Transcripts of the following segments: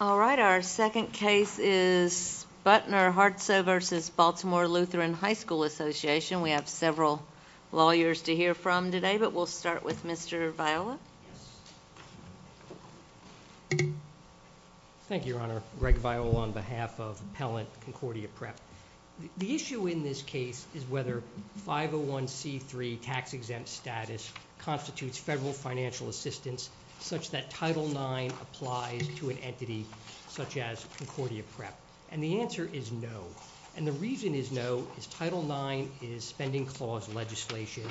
All right, our second case is Buettner-Hartsoe v. Baltimore Lutheran High School Association. We have several lawyers to hear from today, but we'll start with Mr. Viola. Thank you, Your Honor. Greg Viola on behalf of Appellant Concordia Prep. The issue in this case is whether 501c3 tax-exempt status constitutes federal financial assistance such that Title IX applies to an entity such as Concordia Prep. And the answer is no. And the reason is no is Title IX is spending clause legislation,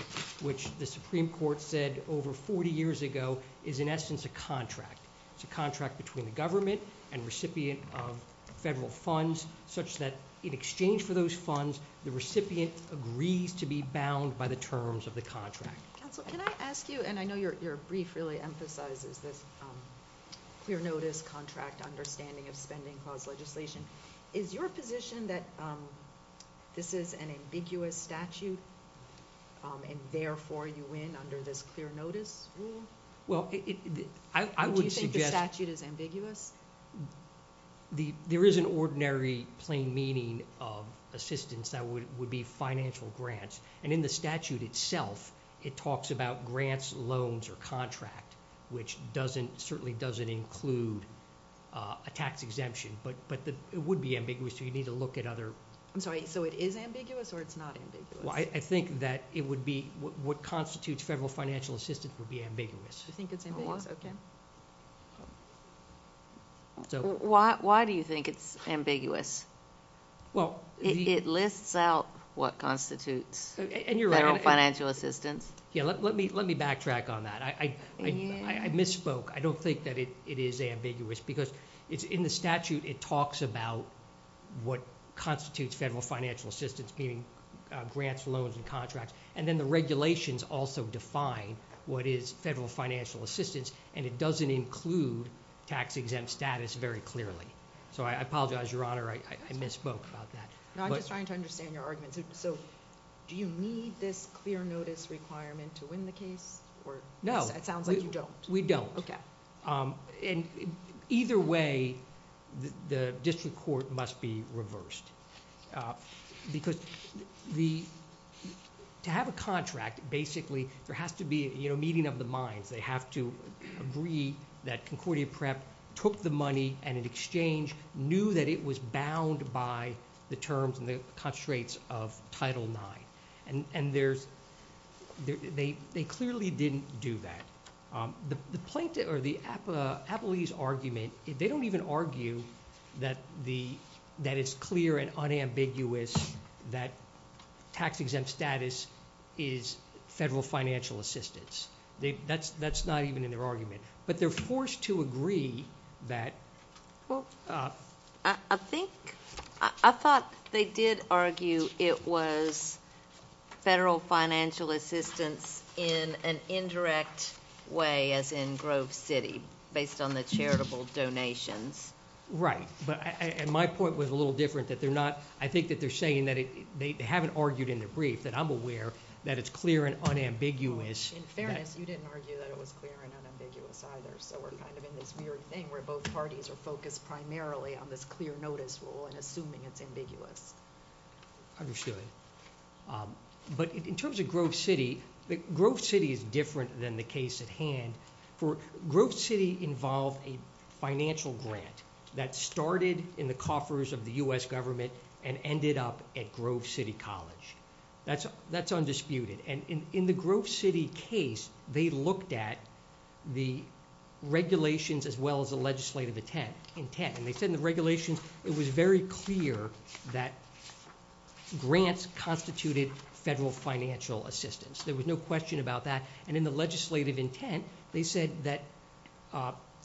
which the Supreme Court said over 40 years ago is in essence a contract. It's a contract between the government and recipient of federal funds, such that in exchange for those funds, the recipient agrees to be bound by the terms of the contract. Counsel, can I ask you, and I know your brief really emphasizes this clear notice, contract, understanding of spending clause legislation. Is your position that this is an ambiguous statute and therefore you win under this clear notice rule? Well, I would suggest— Do you think the statute is ambiguous? There is an ordinary plain meaning of assistance that would be financial grants. And in the statute itself, it talks about grants, loans, or contract, which certainly doesn't include a tax exemption. But it would be ambiguous, so you'd need to look at other— I'm sorry, so it is ambiguous or it's not ambiguous? Well, I think that it would be—what constitutes federal financial assistance would be ambiguous. You think it's ambiguous? Okay. Why do you think it's ambiguous? It lists out what constitutes federal financial assistance. Yeah, let me backtrack on that. I misspoke. I don't think that it is ambiguous because in the statute, it talks about what constitutes federal financial assistance, meaning grants, loans, and contracts. And then the regulations also define what is federal financial assistance, and it doesn't include tax-exempt status very clearly. So I apologize, Your Honor. I misspoke about that. No, I'm just trying to understand your argument. So do you need this clear notice requirement to win the case? No. It sounds like you don't. We don't. Okay. And either way, the district court must be reversed. Because to have a contract, basically, there has to be a meeting of the minds. They have to agree that Concordia Prep took the money and, in exchange, knew that it was bound by the terms and the constraints of Title IX. And they clearly didn't do that. The plaintiff or the appellees' argument, they don't even argue that it's clear and unambiguous that tax-exempt status is federal financial assistance. That's not even in their argument. But they're forced to agree that. Well, I think they did argue it was federal financial assistance in an indirect way, as in Grove City, based on the charitable donations. Right. But my point was a little different, that they're not. I think that they're saying that they haven't argued in their brief that I'm aware that it's clear and unambiguous. In fairness, you didn't argue that it was clear and unambiguous either. So we're kind of in this weird thing where both parties are focused primarily on this clear notice rule and assuming it's ambiguous. Understood. But in terms of Grove City, Grove City is different than the case at hand. Grove City involved a financial grant that started in the coffers of the U.S. government and ended up at Grove City College. That's undisputed. And in the Grove City case, they looked at the regulations as well as the legislative intent. And they said in the regulations it was very clear that grants constituted federal financial assistance. There was no question about that. And in the legislative intent, they said that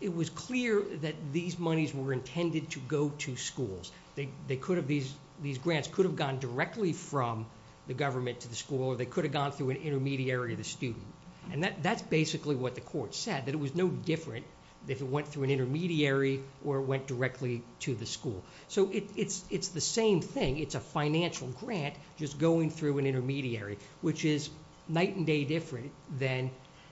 it was clear that these monies were intended to go to schools. These grants could have gone directly from the government to the school or they could have gone through an intermediary of the student. And that's basically what the court said, that it was no different if it went through an intermediary or it went directly to the school. So it's the same thing. It's a financial grant just going through an intermediary, which is night and day different than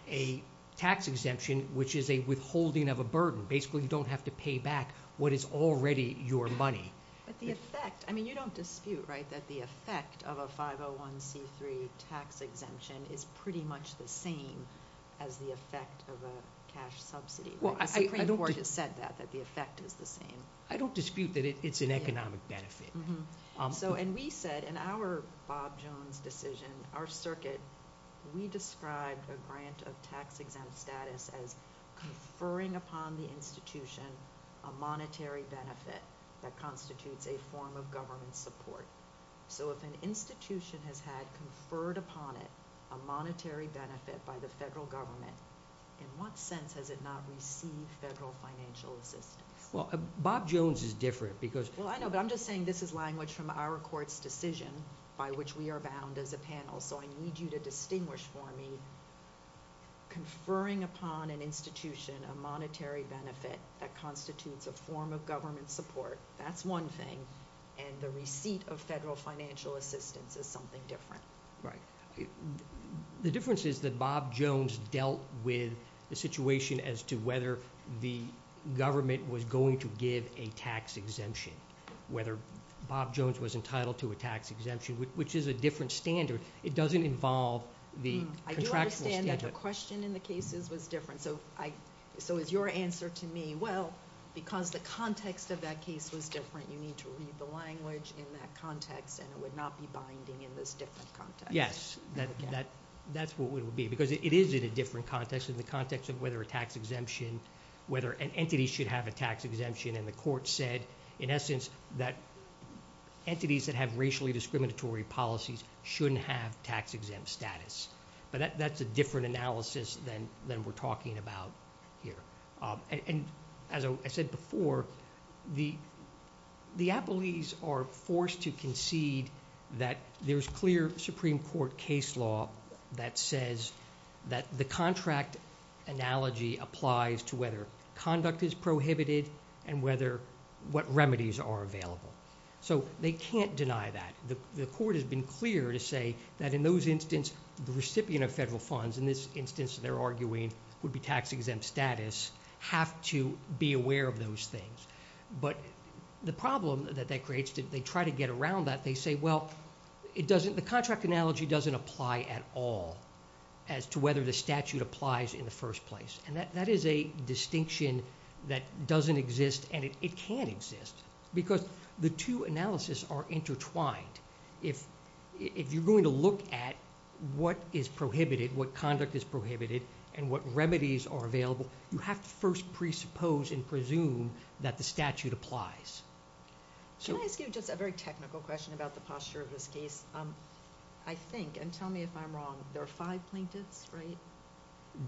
a tax exemption, which is a withholding of a burden. Basically, you don't have to pay back what is already your money. But the effect, I mean, you don't dispute, right, that the effect of a 501c3 tax exemption is pretty much the same as the effect of a cash subsidy. The Supreme Court has said that, that the effect is the same. I don't dispute that it's an economic benefit. And we said in our Bob Jones decision, our circuit, we described a grant of tax-exempt status as conferring upon the institution a monetary benefit that constitutes a form of government support. So if an institution has had conferred upon it a monetary benefit by the federal government, in what sense has it not received federal financial assistance? Well, Bob Jones is different because— Well, I know, but I'm just saying this is language from our court's decision, by which we are bound as a panel. So I need you to distinguish for me conferring upon an institution a monetary benefit that constitutes a form of government support, that's one thing, and the receipt of federal financial assistance is something different. Right. The difference is that Bob Jones dealt with the situation as to whether the government was going to give a tax exemption, whether Bob Jones was entitled to a tax exemption, which is a different standard. It doesn't involve the contractual standard. I do understand that the question in the cases was different. So is your answer to me, well, because the context of that case was different, you need to read the language in that context, and it would not be binding in this different context. Yes, that's what it would be, because it is in a different context, in the context of whether an entity should have a tax exemption, and the court said, in essence, that entities that have racially discriminatory policies shouldn't have tax-exempt status. But that's a different analysis than we're talking about here. And as I said before, the appellees are forced to concede that there's clear Supreme Court case law that says that the contract analogy applies to whether conduct is prohibited and what remedies are available. So they can't deny that. The court has been clear to say that in those instances, the recipient of federal funds, in this instance, they're arguing would be tax-exempt status, have to be aware of those things. But the problem that that creates, they try to get around that. They say, well, the contract analogy doesn't apply at all as to whether the statute applies in the first place. And that is a distinction that doesn't exist, and it can't exist, because the two analysis are intertwined. If you're going to look at what is prohibited, what conduct is prohibited, and what remedies are available, you have to first presuppose and presume that the statute applies. Can I ask you just a very technical question about the posture of this case? I think, and tell me if I'm wrong, there are five plaintiffs, right?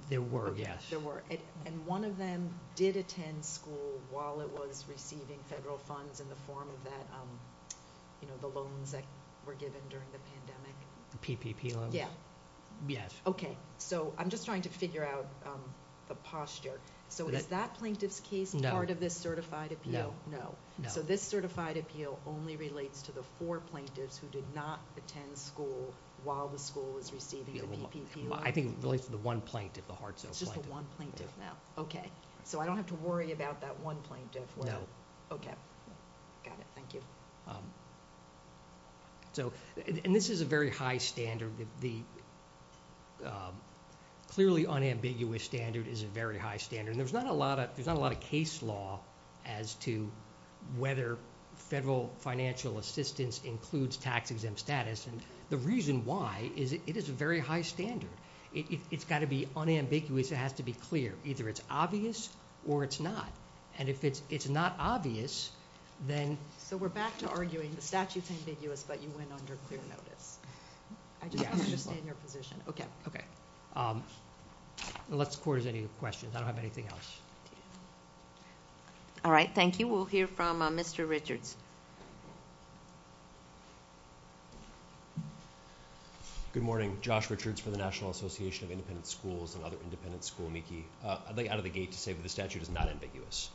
There were, yes. There were, and one of them did attend school while it was receiving federal funds in the form of that, you know, the loans that were given during the pandemic. PPP loans? Yeah. Yes. Okay, so I'm just trying to figure out the posture. So is that plaintiff's case part of this certified appeal? No. So this certified appeal only relates to the four plaintiffs who did not attend school while the school was receiving the PPP loan? I think it relates to the one plaintiff, the Hartzell plaintiff. It's just the one plaintiff? No. Okay. So I don't have to worry about that one plaintiff? No. Okay. Got it. Thank you. So, and this is a very high standard. The clearly unambiguous standard is a very high standard, and there's not a lot of case law as to whether federal financial assistance includes tax-exempt status, and the reason why is it is a very high standard. It's got to be unambiguous. It has to be clear. Either it's obvious or it's not, and if it's not obvious, then— So we're back to arguing the statute's ambiguous, but you went under clear notice. I just want to understand your position. Okay. Okay. Unless the Court has any questions, I don't have anything else. All right. Thank you. We'll hear from Mr. Richards. Good morning. I'm Josh Richards from the National Association of Independent Schools, another independent school. I'd like out of the gate to say that the statute is not ambiguous.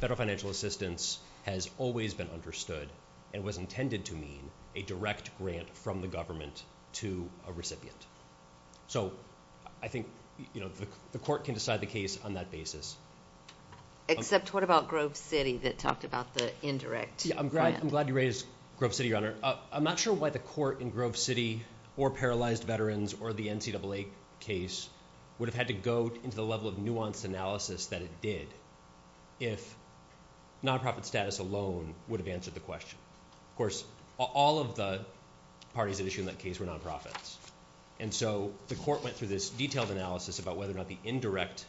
Federal financial assistance has always been understood and was intended to mean a direct grant from the government to a recipient. So I think the Court can decide the case on that basis. Except what about Grove City that talked about the indirect grant? I'm not sure why the Court in Grove City or paralyzed veterans or the NCAA case would have had to go into the level of nuanced analysis that it did if nonprofit status alone would have answered the question. Of course, all of the parties at issue in that case were nonprofits, and so the Court went through this detailed analysis about whether or not the indirect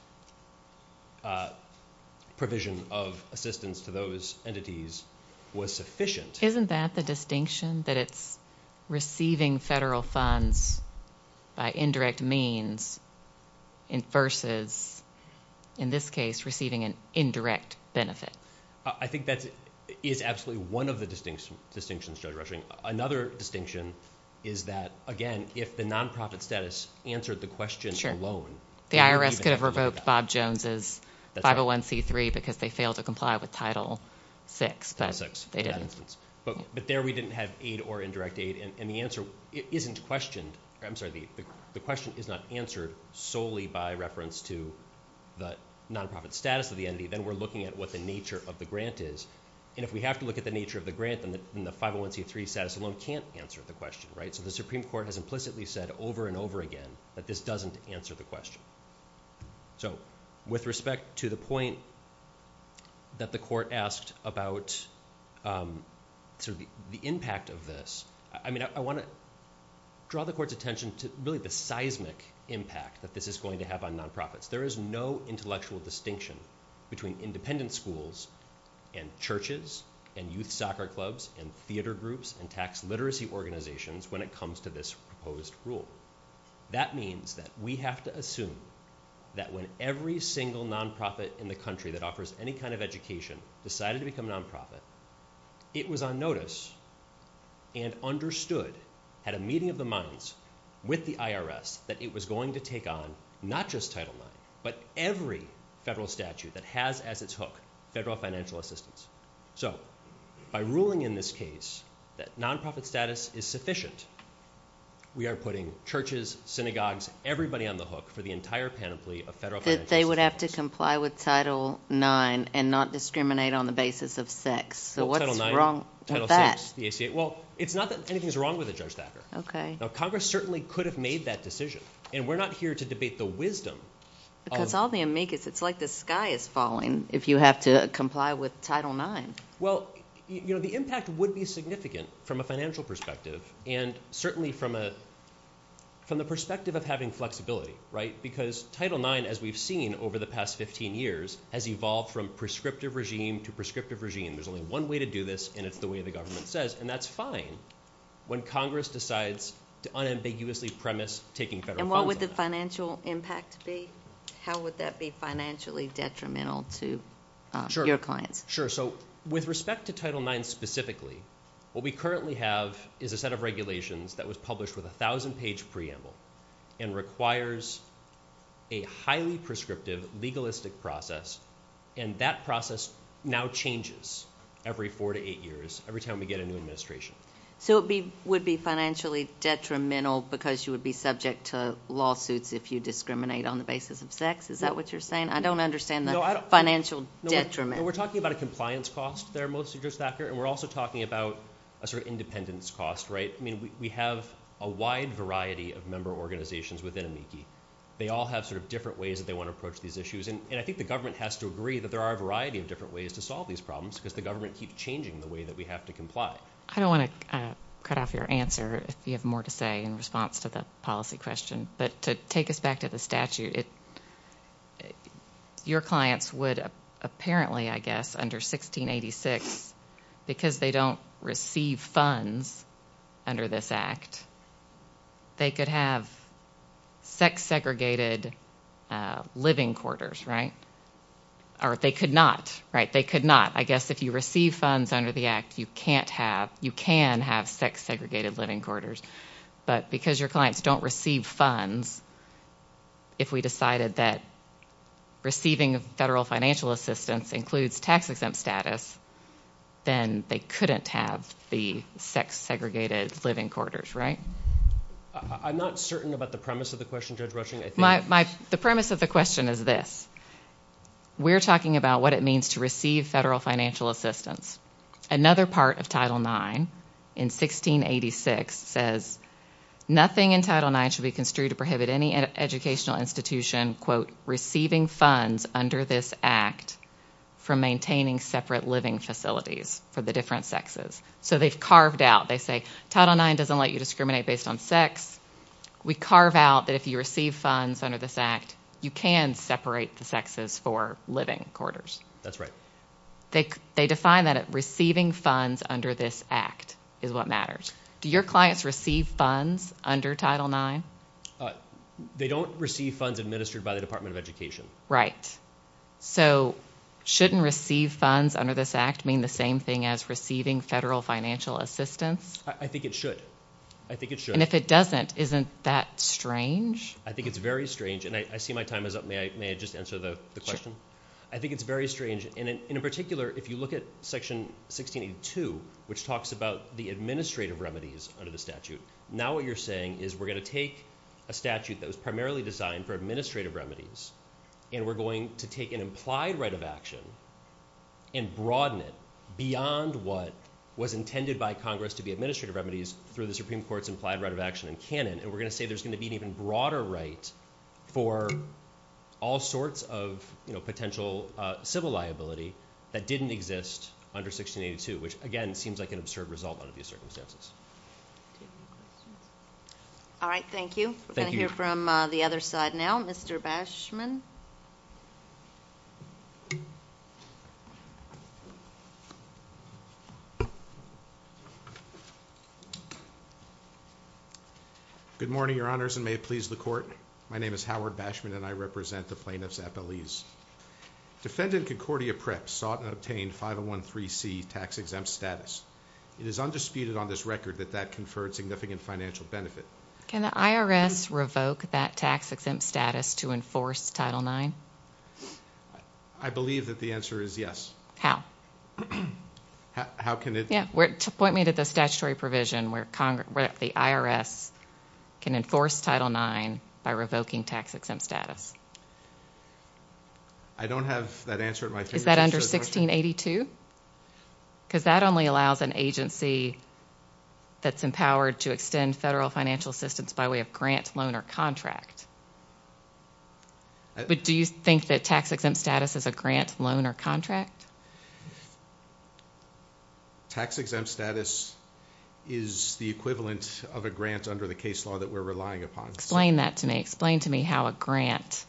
provision of assistance to those entities was sufficient. Isn't that the distinction, that it's receiving federal funds by indirect means versus, in this case, receiving an indirect benefit? I think that is absolutely one of the distinctions, Judge Rushing. Another distinction is that, again, if the nonprofit status answered the question alone, the IRS could have revoked Bob Jones's 501c3 because they failed to comply with Title VI, but they didn't. But there we didn't have aid or indirect aid, and the question is not answered solely by reference to the nonprofit status of the entity. Then we're looking at what the nature of the grant is, and if we have to look at the nature of the grant, then the 501c3 status alone can't answer the question. So the Supreme Court has implicitly said over and over again that this doesn't answer the question. With respect to the point that the Court asked about the impact of this, I want to draw the Court's attention to really the seismic impact that this is going to have on nonprofits. There is no intellectual distinction between independent schools and churches and youth soccer clubs and theater groups and tax literacy organizations when it comes to this proposed rule. That means that we have to assume that when every single nonprofit in the country that offers any kind of education decided to become a nonprofit, it was on notice and understood, had a meeting of the minds with the IRS, that it was going to take on not just Title IX, but every federal statute that has as its hook federal financial assistance. So by ruling in this case that nonprofit status is sufficient, we are putting churches, synagogues, everybody on the hook for the entire panoply of federal financial assistance. That they would have to comply with Title IX and not discriminate on the basis of sex. So what's wrong with that? Title IX, Title VI, the ACA. Well, it's not that anything's wrong with it, Judge Thacker. Okay. Now, Congress certainly could have made that decision, and we're not here to debate the wisdom. Because all they make is it's like the sky is falling if you have to comply with Title IX. Well, you know, the impact would be significant from a financial perspective and certainly from the perspective of having flexibility, right? Because Title IX, as we've seen over the past 15 years, has evolved from prescriptive regime to prescriptive regime. There's only one way to do this, and it's the way the government says. And that's fine when Congress decides to unambiguously premise taking federal funds out. And what would the financial impact be? How would that be financially detrimental to your clients? Sure. So with respect to Title IX specifically, what we currently have is a set of regulations that was published with a 1,000-page preamble and requires a highly prescriptive legalistic process. And that process now changes every four to eight years, every time we get a new administration. So it would be financially detrimental because you would be subject to lawsuits if you discriminate on the basis of sex? Is that what you're saying? I don't understand the financial detriment. No, we're talking about a compliance cost there, mostly, just that. And we're also talking about a sort of independence cost, right? I mean, we have a wide variety of member organizations within AMICI. They all have sort of different ways that they want to approach these issues. And I think the government has to agree that there are a variety of different ways to solve these problems because the government keeps changing the way that we have to comply. I don't want to cut off your answer if you have more to say in response to the policy question, but to take us back to the statute, your clients would apparently, I guess, under 1686, because they don't receive funds under this Act, they could have sex-segregated living quarters, right? Or they could not, right? They could not. I guess if you receive funds under the Act, you can have sex-segregated living quarters. But because your clients don't receive funds, if we decided that receiving federal financial assistance includes tax-exempt status, then they couldn't have the sex-segregated living quarters, right? I'm not certain about the premise of the question, Judge Rushing. The premise of the question is this. We're talking about what it means to receive federal financial assistance. Another part of Title IX in 1686 says, nothing in Title IX should be construed to prohibit any educational institution receiving funds under this Act from maintaining separate living facilities for the different sexes. So they've carved out. They say, Title IX doesn't let you discriminate based on sex. We carve out that if you receive funds under this Act, you can separate the sexes for living quarters. That's right. They define that as receiving funds under this Act is what matters. Do your clients receive funds under Title IX? They don't receive funds administered by the Department of Education. Right. So shouldn't receive funds under this Act mean the same thing as receiving federal financial assistance? I think it should. I think it should. And if it doesn't, isn't that strange? I think it's very strange. And I see my time is up. May I just answer the question? Sure. I think it's very strange. And in particular, if you look at Section 1682, which talks about the administrative remedies under the statute, now what you're saying is we're going to take a statute that was primarily designed for administrative remedies, and we're going to take an implied right of action and broaden it beyond what was intended by Congress to be administrative remedies through the Supreme Court's implied right of action in canon, and we're going to say there's going to be an even broader right for all sorts of potential civil liability that didn't exist under 1682, which, again, seems like an absurd result under these circumstances. Thank you. Thank you. We're going to hear from the other side now. Mr. Bashman. Good morning, Your Honors, and may it please the Court. My name is Howard Bashman, and I represent the plaintiffs at Belize. Defendant Concordia Preps sought and obtained 5013C tax-exempt status. It is undisputed on this record that that conferred significant financial benefit. Can the IRS revoke that tax-exempt status to enforce Title IX? I believe that the answer is yes. How? How can it? Point me to the statutory provision where the IRS can enforce Title IX by revoking tax-exempt status. I don't have that answer at my fingertips. Is that under 1682? Because that only allows an agency that's empowered to extend federal financial assistance by way of grant, loan, or contract. But do you think that tax-exempt status is a grant, loan, or contract? Tax-exempt status is the equivalent of a grant under the case law that we're relying upon. Explain that to me. Explain to me how a grant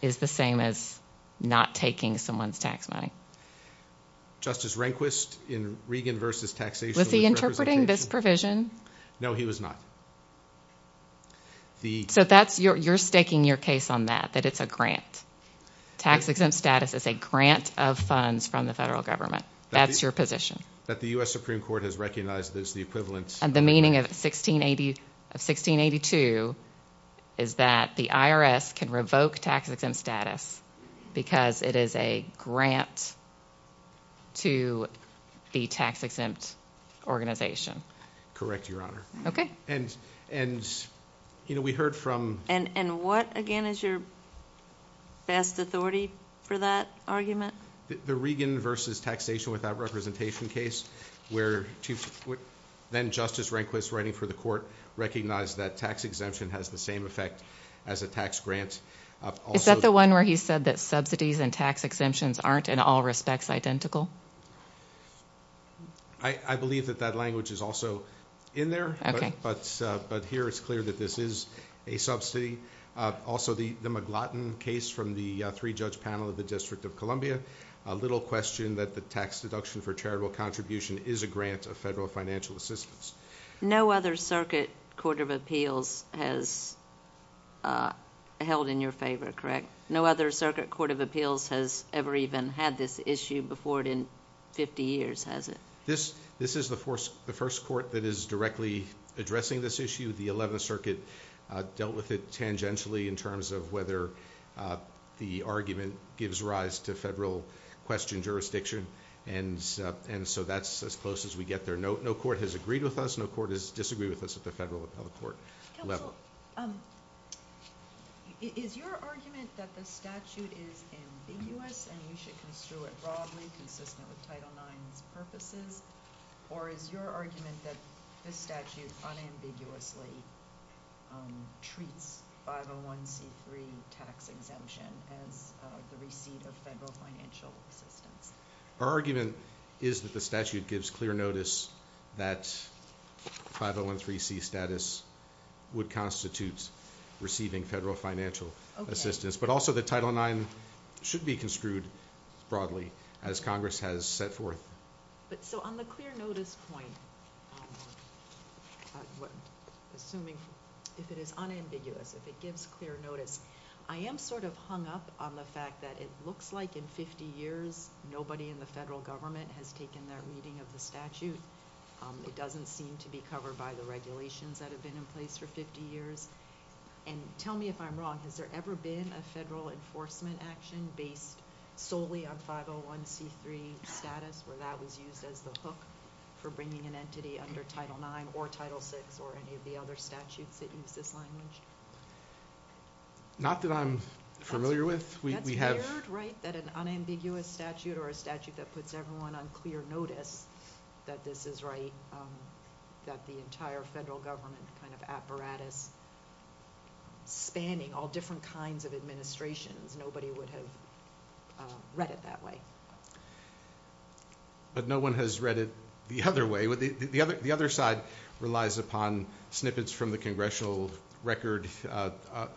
is the same as not taking someone's tax money. Justice Rehnquist in Regan v. Taxation with Representation. Was he interpreting this provision? No, he was not. So you're staking your case on that, that it's a grant. Tax-exempt status is a grant of funds from the federal government. That's your position. That the U.S. Supreme Court has recognized that it's the equivalent. The meaning of 1682 is that the IRS can revoke tax-exempt status because it is a grant to the tax-exempt organization. Correct, Your Honor. And what, again, is your best authority for that argument? The Regan v. Taxation without Representation case, where then-Justice Rehnquist writing for the court, recognized that tax-exemption has the same effect as a tax grant. Is that the one where he said that subsidies and tax-exemptions aren't in all respects identical? I believe that that language is also in there. Okay. But here it's clear that this is a subsidy. Also, the McLaughlin case from the three-judge panel of the District of Columbia, a little question that the tax deduction for charitable contribution is a grant of federal financial assistance. No other circuit court of appeals has held in your favor, correct? No other circuit court of appeals has ever even had this issue before it in 50 years, has it? This is the first court that is directly addressing this issue. The Eleventh Circuit dealt with it tangentially in terms of whether the argument gives rise to federal question jurisdiction. And so that's as close as we get there. No court has agreed with us. No court has disagreed with us at the federal or public court level. Counsel, is your argument that the statute is ambiguous and we should construe it broadly, consistent with Title IX's purposes? Or is your argument that this statute unambiguously treats 501c3 tax exemption as the receipt of federal financial assistance? Our argument is that the statute gives clear notice that 501c3 status would constitute receiving federal financial assistance. But also that Title IX should be construed broadly as Congress has set forth. But so on the clear notice point, assuming if it is unambiguous, if it gives clear notice, I am sort of hung up on the fact that it looks like in 50 years nobody in the federal government has taken that reading of the statute. It doesn't seem to be covered by the regulations that have been in place for 50 years. And tell me if I'm wrong. Has there ever been a federal enforcement action based solely on 501c3 status where that was used as the hook for bringing an entity under Title IX or Title VI or any of the other statutes that use this language? Not that I'm familiar with. That's weird, right, that an unambiguous statute or a statute that puts everyone on clear notice that this is right, that the entire federal government kind of apparatus spanning all different kinds of administrations, nobody would have read it that way. But no one has read it the other way. The other side relies upon snippets from the congressional record.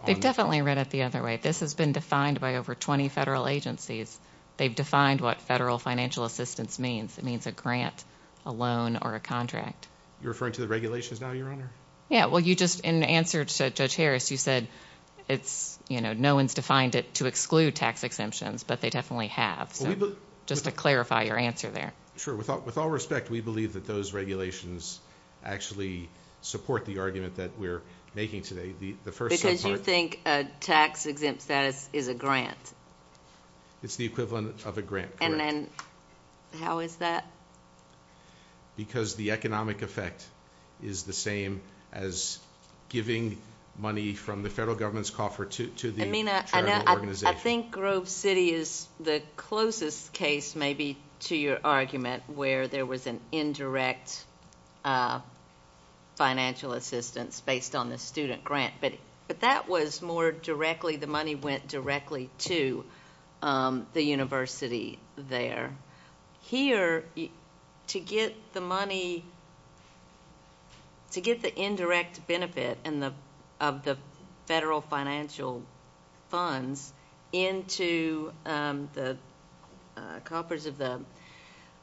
They've definitely read it the other way. This has been defined by over 20 federal agencies. They've defined what federal financial assistance means. It means a grant, a loan, or a contract. You're referring to the regulations now, Your Honor? Yeah, well, in answer to Judge Harris, you said no one's defined it to exclude tax exemptions, but they definitely have. Just to clarify your answer there. Sure. With all respect, we believe that those regulations actually support the argument that we're making today. Because you think a tax exempt status is a grant? It's the equivalent of a grant, correct. And how is that? Because the economic effect is the same as giving money from the federal government's coffer to the charitable organization. I think Grove City is the closest case maybe to your argument where there was an indirect financial assistance based on the student grant. But that was more directly, the money went directly to the university there. Here, to get the money, to get the indirect benefit of the federal financial funds into the coffers of the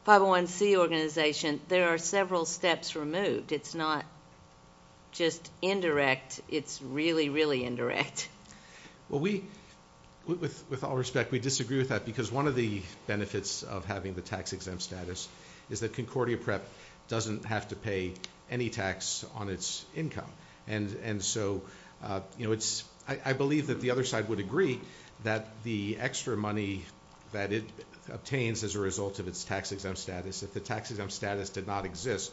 501C organization, there are several steps removed. It's not just indirect. It's really, really indirect. Well, with all respect, we disagree with that because one of the benefits of having the tax exempt status is that Concordia Prep doesn't have to pay any tax on its income. And so I believe that the other side would agree that the extra money that it obtains as a result of its tax exempt status, if the tax exempt status did not exist,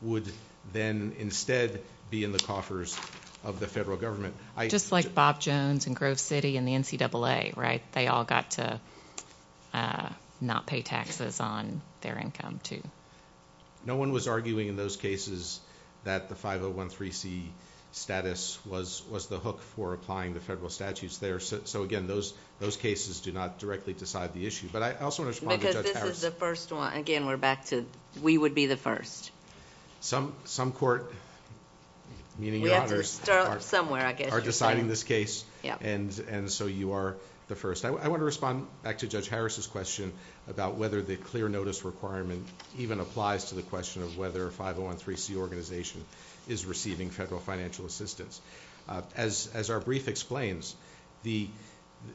would then instead be in the coffers of the federal government. Just like Bob Jones and Grove City and the NCAA, right? They all got to not pay taxes on their income, too. No one was arguing in those cases that the 501C status was the hook for applying the federal statutes there. So, again, those cases do not directly decide the issue. But I also want to respond to Judge Harris. Because this is the first one. Again, we're back to we would be the first. Some court, meaning your honors, are deciding this case. And so you are the first. I want to respond back to Judge Harris's question about whether the clear notice requirement even applies to the question of whether a 501C organization is receiving federal financial assistance. As our brief explains, the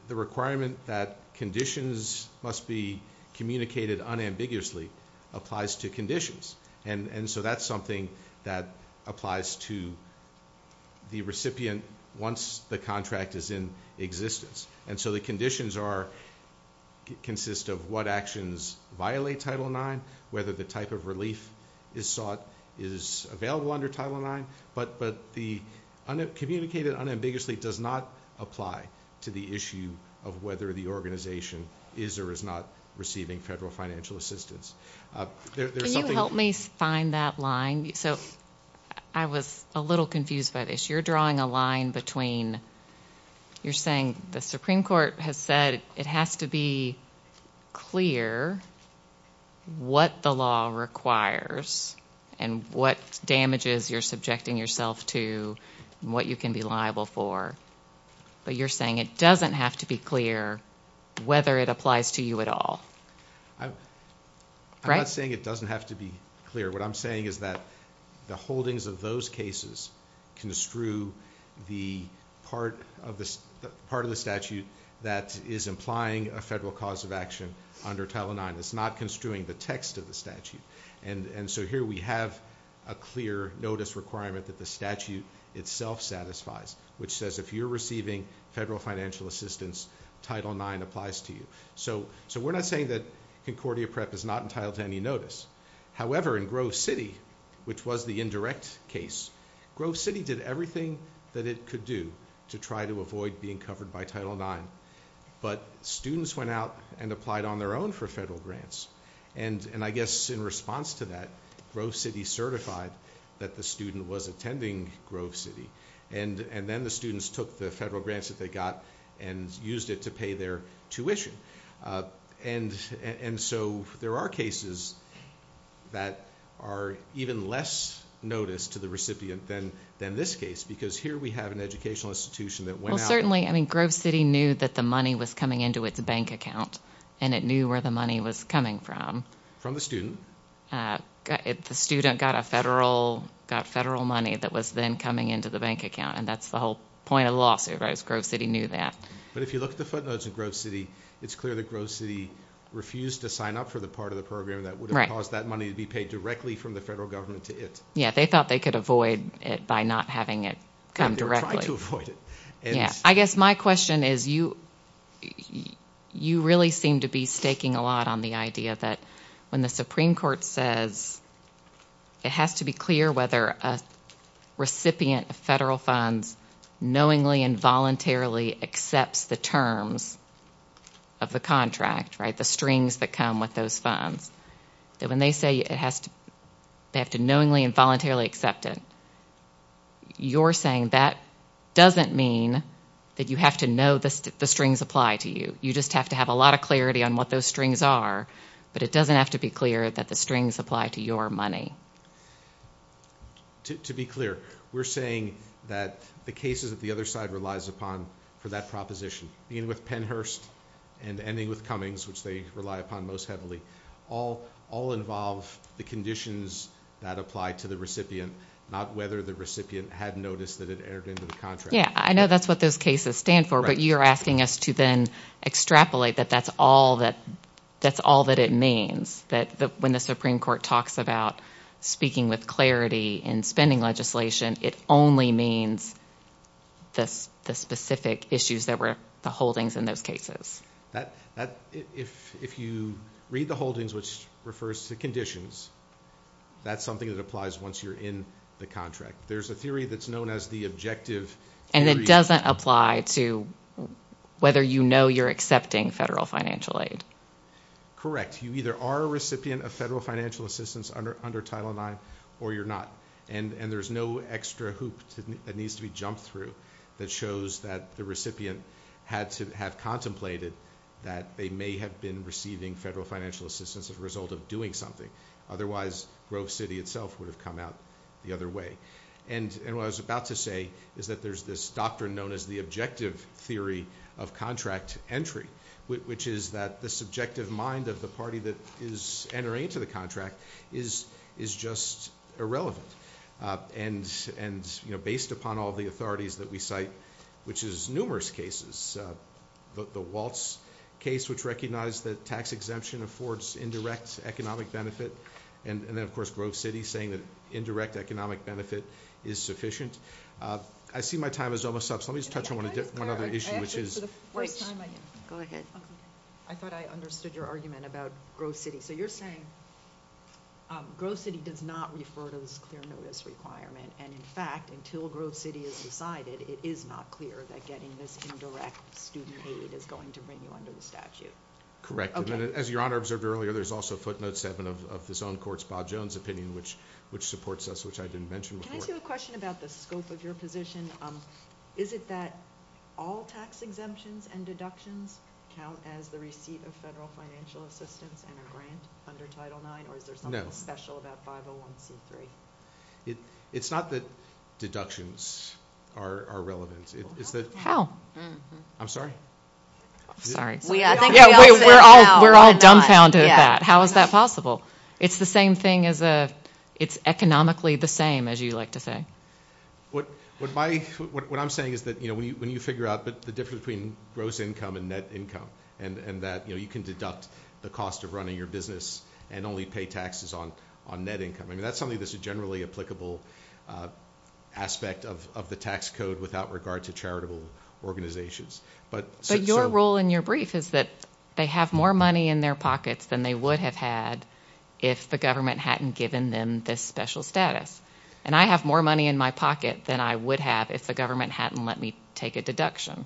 requirement that conditions must be communicated unambiguously applies to conditions. And so that's something that applies to the recipient once the contract is in existence. And so the conditions consist of what actions violate Title IX, whether the type of relief is sought is available under Title IX. But the communicated unambiguously does not apply to the issue of whether the organization is or is not receiving federal financial assistance. Can you help me find that line? So I was a little confused by this. You're drawing a line between you're saying the Supreme Court has said it has to be clear what the law requires and what damages you're subjecting yourself to and what you can be liable for. But you're saying it doesn't have to be clear whether it applies to you at all. I'm not saying it doesn't have to be clear. What I'm saying is that the holdings of those cases construe the part of the statute that is implying a federal cause of action under Title IX. It's not construing the text of the statute. And so here we have a clear notice requirement that the statute itself satisfies, which says if you're receiving federal financial assistance, Title IX applies to you. So we're not saying that Concordia Prep is not entitled to any notice. However, in Grove City, which was the indirect case, Grove City did everything that it could do to try to avoid being covered by Title IX. But students went out and applied on their own for federal grants. And I guess in response to that, Grove City certified that the student was attending Grove City. And then the students took the federal grants that they got and used it to pay their tuition. And so there are cases that are even less notice to the recipient than this case, because here we have an educational institution that went out. Well, certainly, I mean, Grove City knew that the money was coming into its bank account, and it knew where the money was coming from. From the student. The student got federal money that was then coming into the bank account. And that's the whole point of the lawsuit, right, is Grove City knew that. But if you look at the footnotes of Grove City, it's clear that Grove City refused to sign up for the part of the program that would have caused that money to be paid directly from the federal government to it. Yeah, they thought they could avoid it by not having it come directly. They were trying to avoid it. Yeah, I guess my question is you really seem to be staking a lot on the idea that when the Supreme Court says it has to be clear whether a recipient of federal funds knowingly and voluntarily accepts the terms of the contract, right, the strings that come with those funds, that when they say they have to knowingly and voluntarily accept it, you're saying that doesn't mean that you have to know the strings apply to you. You just have to have a lot of clarity on what those strings are, but it doesn't have to be clear that the strings apply to your money. To be clear, we're saying that the cases that the other side relies upon for that proposition, beginning with Pennhurst and ending with Cummings, which they rely upon most heavily, all involve the conditions that apply to the recipient, not whether the recipient had noticed that it entered into the contract. Yeah, I know that's what those cases stand for, but you're asking us to then extrapolate that that's all that it means, that when the Supreme Court talks about speaking with clarity in spending legislation, it only means the specific issues that were the holdings in those cases. If you read the holdings, which refers to conditions, that's something that applies once you're in the contract. There's a theory that's known as the objective… And it doesn't apply to whether you know you're accepting federal financial aid. Correct. You either are a recipient of federal financial assistance under Title IX or you're not. And there's no extra hoop that needs to be jumped through that shows that the recipient had to have contemplated that they may have been receiving federal financial assistance as a result of doing something. Otherwise, Grove City itself would have come out the other way. And what I was about to say is that there's this doctrine known as the objective theory of contract entry, which is that the subjective mind of the party that is entering into the contract is just irrelevant. And based upon all the authorities that we cite, which is numerous cases, the Walz case, which recognized that tax exemption affords indirect economic benefit. And then, of course, Grove City saying that indirect economic benefit is sufficient. I see my time is almost up, so let me just touch on one other issue, which is… Go ahead. I thought I understood your argument about Grove City. So you're saying Grove City does not refer to this clear notice requirement. And, in fact, until Grove City is decided, it is not clear that getting this indirect student aid is going to bring you under the statute. Correct. Okay. As Your Honor observed earlier, there's also Footnote 7 of this own court's Bob Jones opinion, which supports us, which I didn't mention before. Can I ask you a question about the scope of your position? Is it that all tax exemptions and deductions count as the receipt of federal financial assistance and a grant under Title IX? No. Or is there something special about 501c3? It's not that deductions are relevant. How? I'm sorry? Sorry. We're all dumbfounded at that. How is that possible? It's the same thing as a – it's economically the same, as you like to say. What I'm saying is that, you know, when you figure out the difference between gross income and net income, and that, you know, you can deduct the cost of running your business and only pay taxes on net income. I mean, that's something that's a generally applicable aspect of the tax code without regard to charitable organizations. But your rule in your brief is that they have more money in their pockets than they would have had if the government hadn't given them this special status. And I have more money in my pocket than I would have if the government hadn't let me take a deduction.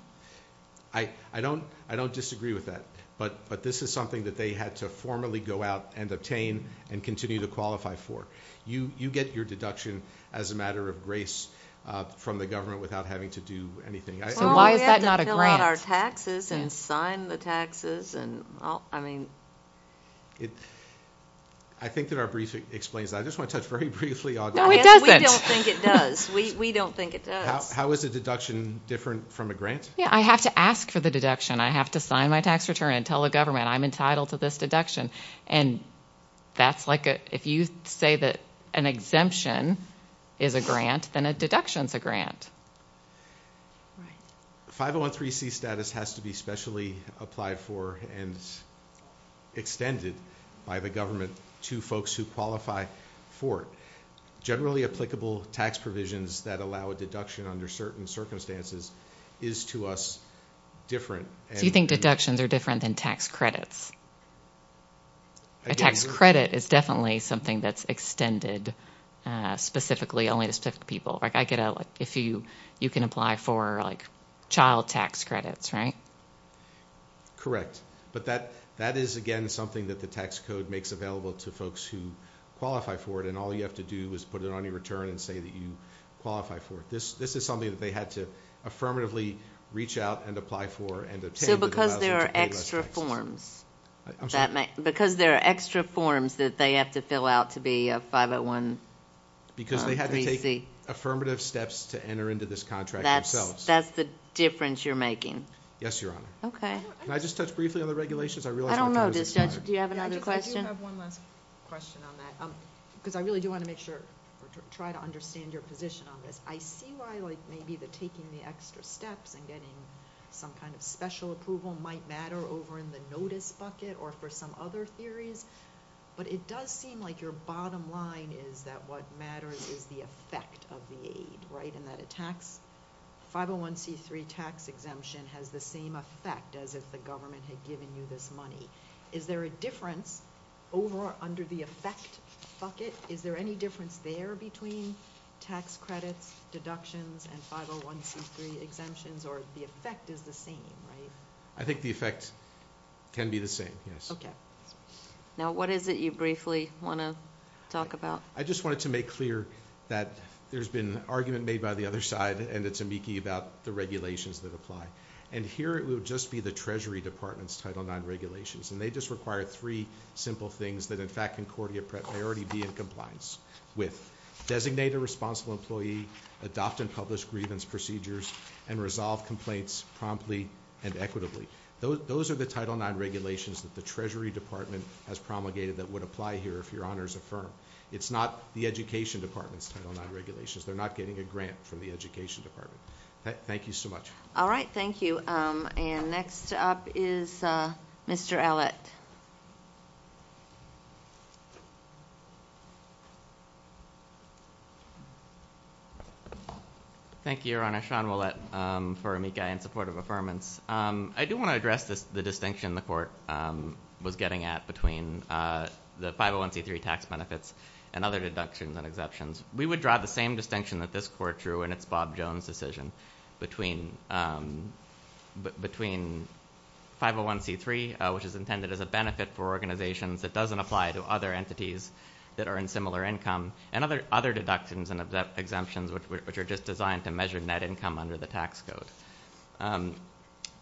I don't disagree with that. But this is something that they had to formally go out and obtain and continue to qualify for. You get your deduction as a matter of grace from the government without having to do anything. So why is that not a grant? Well, we have to fill out our taxes and sign the taxes. I think that our brief explains that. I just want to touch very briefly on that. No, it doesn't. We don't think it does. We don't think it does. How is a deduction different from a grant? Yeah, I have to ask for the deduction. I have to sign my tax return and tell the government I'm entitled to this deduction. And that's like if you say that an exemption is a grant, then a deduction is a grant. Right. 5013C status has to be specially applied for and extended by the government to folks who qualify for it. Generally applicable tax provisions that allow a deduction under certain circumstances is to us different. So you think deductions are different than tax credits? A tax credit is definitely something that's extended specifically only to specific people. You can apply for child tax credits, right? Correct. But that is, again, something that the tax code makes available to folks who qualify for it, and all you have to do is put it on your return and say that you qualify for it. This is something that they had to affirmatively reach out and apply for and obtain. So because there are extra forms that they have to fill out to be a 5013C? Because they had to take affirmative steps to enter into this contract themselves. That's the difference you're making? Yes, Your Honor. Okay. Can I just touch briefly on the regulations? I realize my time is up. I don't know, Judge. Do you have another question? I do have one last question on that because I really do want to make sure to try to understand your position on this. I see why, like, maybe the taking the extra steps and getting some kind of special approval might matter over in the notice bucket or for some other theories, but it does seem like your bottom line is that what matters is the effect of the aid, right, and that a 501C3 tax exemption has the same effect as if the government had given you this money. Is there a difference over or under the effect bucket? Is there any difference there between tax credits, deductions, and 501C3 exemptions, or the effect is the same, right? I think the effect can be the same, yes. Okay. Now, what is it you briefly want to talk about? I just wanted to make clear that there's been an argument made by the other side, and it's amici about the regulations that apply, and here it would just be the Treasury Department's Title IX regulations, and they just require three simple things that, in fact, Concordia may already be in compliance with. Designate a responsible employee, adopt and publish grievance procedures, and resolve complaints promptly and equitably. Those are the Title IX regulations that the Treasury Department has promulgated that would apply here if your honors affirm. It's not the Education Department's Title IX regulations. They're not getting a grant from the Education Department. Thank you so much. All right. Thank you. And next up is Mr. Allitt. Thank you, Your Honor. I'm Sean Allitt for amici in support of affirmance. I do want to address the distinction the Court was getting at between the 501c3 tax benefits and other deductions and exemptions. We would draw the same distinction that this Court drew in its Bob Jones decision between 501c3, which is intended as a benefit for organizations that doesn't apply to other entities that are in similar income, and other deductions and exemptions, which are just designed to measure net income under the tax code.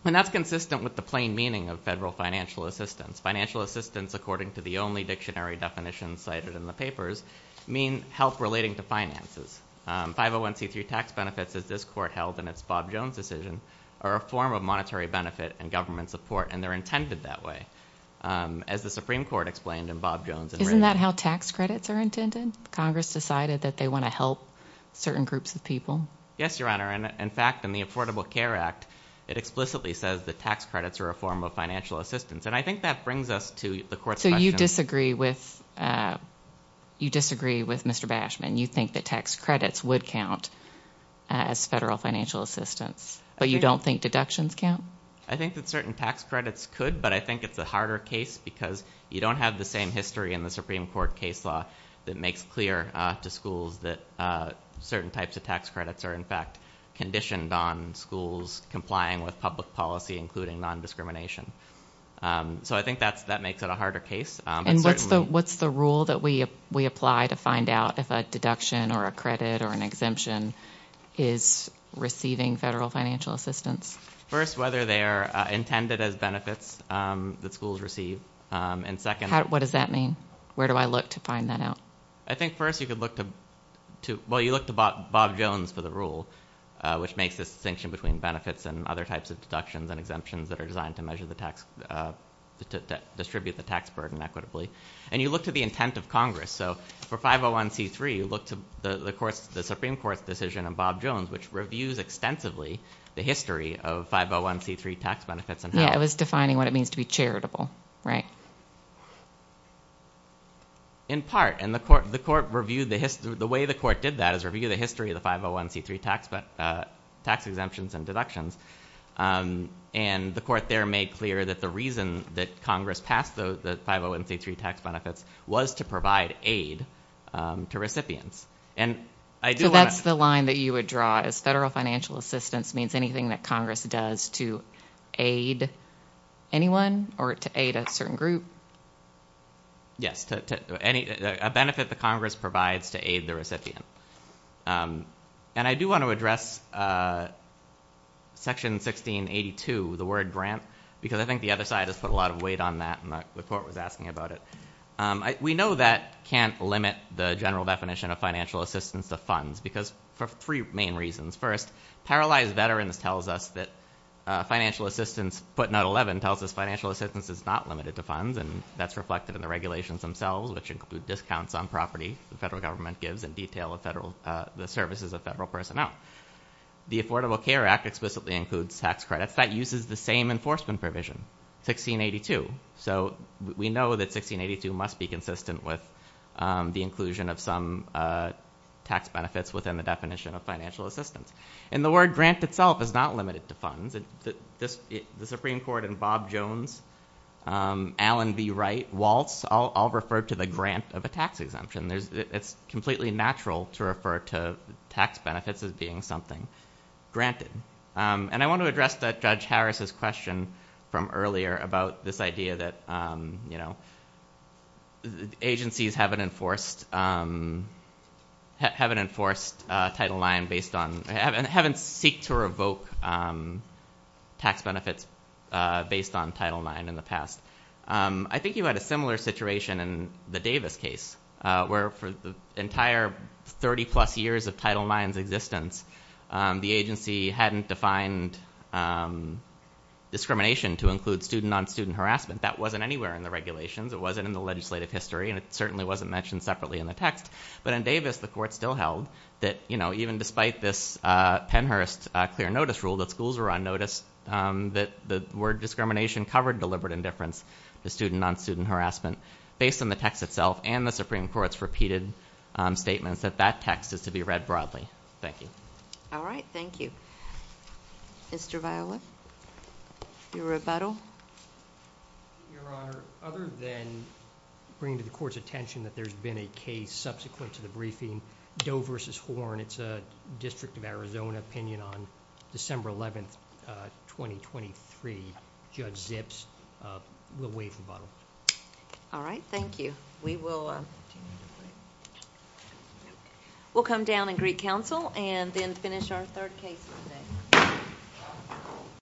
And that's consistent with the plain meaning of federal financial assistance. Financial assistance, according to the only dictionary definition cited in the papers, means help relating to finances. 501c3 tax benefits, as this Court held in its Bob Jones decision, are a form of monetary benefit and government support, and they're intended that way, as the Supreme Court explained in Bob Jones. Isn't that how tax credits are intended? Congress decided that they want to help certain groups of people? Yes, Your Honor. In fact, in the Affordable Care Act, it explicitly says that tax credits are a form of financial assistance, and I think that brings us to the Court's question. So you disagree with Mr. Bashman? You think that tax credits would count as federal financial assistance, but you don't think deductions count? I think that certain tax credits could, but I think it's a harder case because you don't have the same history in the Supreme Court case law that makes clear to schools that certain types of tax credits are, in fact, conditioned on schools complying with public policy, including nondiscrimination. So I think that makes it a harder case. And what's the rule that we apply to find out if a deduction or a credit or an exemption is receiving federal financial assistance? First, whether they are intended as benefits that schools receive, and second... What does that mean? Where do I look to find that out? I think, first, you could look to Bob Jones for the rule, which makes a distinction between benefits and other types of deductions and exemptions that are designed to distribute the tax burden equitably. And you look to the intent of Congress. So for 501c3, you look to the Supreme Court's decision on Bob Jones, which reviews extensively the history of 501c3 tax benefits. Yeah, it was defining what it means to be charitable, right? In part, and the way the court did that is review the history of the 501c3 tax exemptions and deductions. And the court there made clear that the reason that Congress passed the 501c3 tax benefits was to provide aid to recipients. So that's the line that you would draw, is federal financial assistance means anything that Congress does to aid anyone or to aid a certain group? Yes, a benefit that Congress provides to aid the recipient. And I do want to address Section 1682, the word grant, because I think the other side has put a lot of weight on that, and the court was asking about it. We know that can't limit the general definition of financial assistance to funds, because for three main reasons. First, paralyzed veterans tells us that financial assistance, footnote 11 tells us financial assistance is not limited to funds, and that's reflected in the regulations themselves, which include discounts on property the federal government gives and detail of the services of federal personnel. The Affordable Care Act explicitly includes tax credits. That uses the same enforcement provision, 1682. So we know that 1682 must be consistent with the inclusion of some tax benefits within the definition of financial assistance. And the word grant itself is not limited to funds. The Supreme Court and Bob Jones, Alan B. Wright, Waltz, all refer to the grant of a tax exemption. It's completely natural to refer to tax benefits as being something granted. And I want to address Judge Harris' question from earlier about this idea that agencies haven't enforced Title IX, haven't seeked to revoke tax benefits based on Title IX in the past. I think you had a similar situation in the Davis case, where for the entire 30-plus years of Title IX's existence, the agency hadn't defined discrimination to include student-on-student harassment. That wasn't anywhere in the regulations. It wasn't in the legislative history, and it certainly wasn't mentioned separately in the text. But in Davis, the court still held that, you know, even despite this Pennhurst clear notice rule that schools were on notice, that the word discrimination covered deliberate indifference to student-on-student harassment based on the text itself and the Supreme Court's repeated statements that that text is to be read broadly. Thank you. All right. Thank you. Mr. Viola, your rebuttal? Your Honor, other than bringing to the Court's attention that there's been a case subsequent to the briefing, Doe v. Horn, it's a District of Arizona opinion on December 11, 2023. Judge Zips will waive rebuttal. All right. Thank you. We will come down and greet counsel and then finish our third case of the day.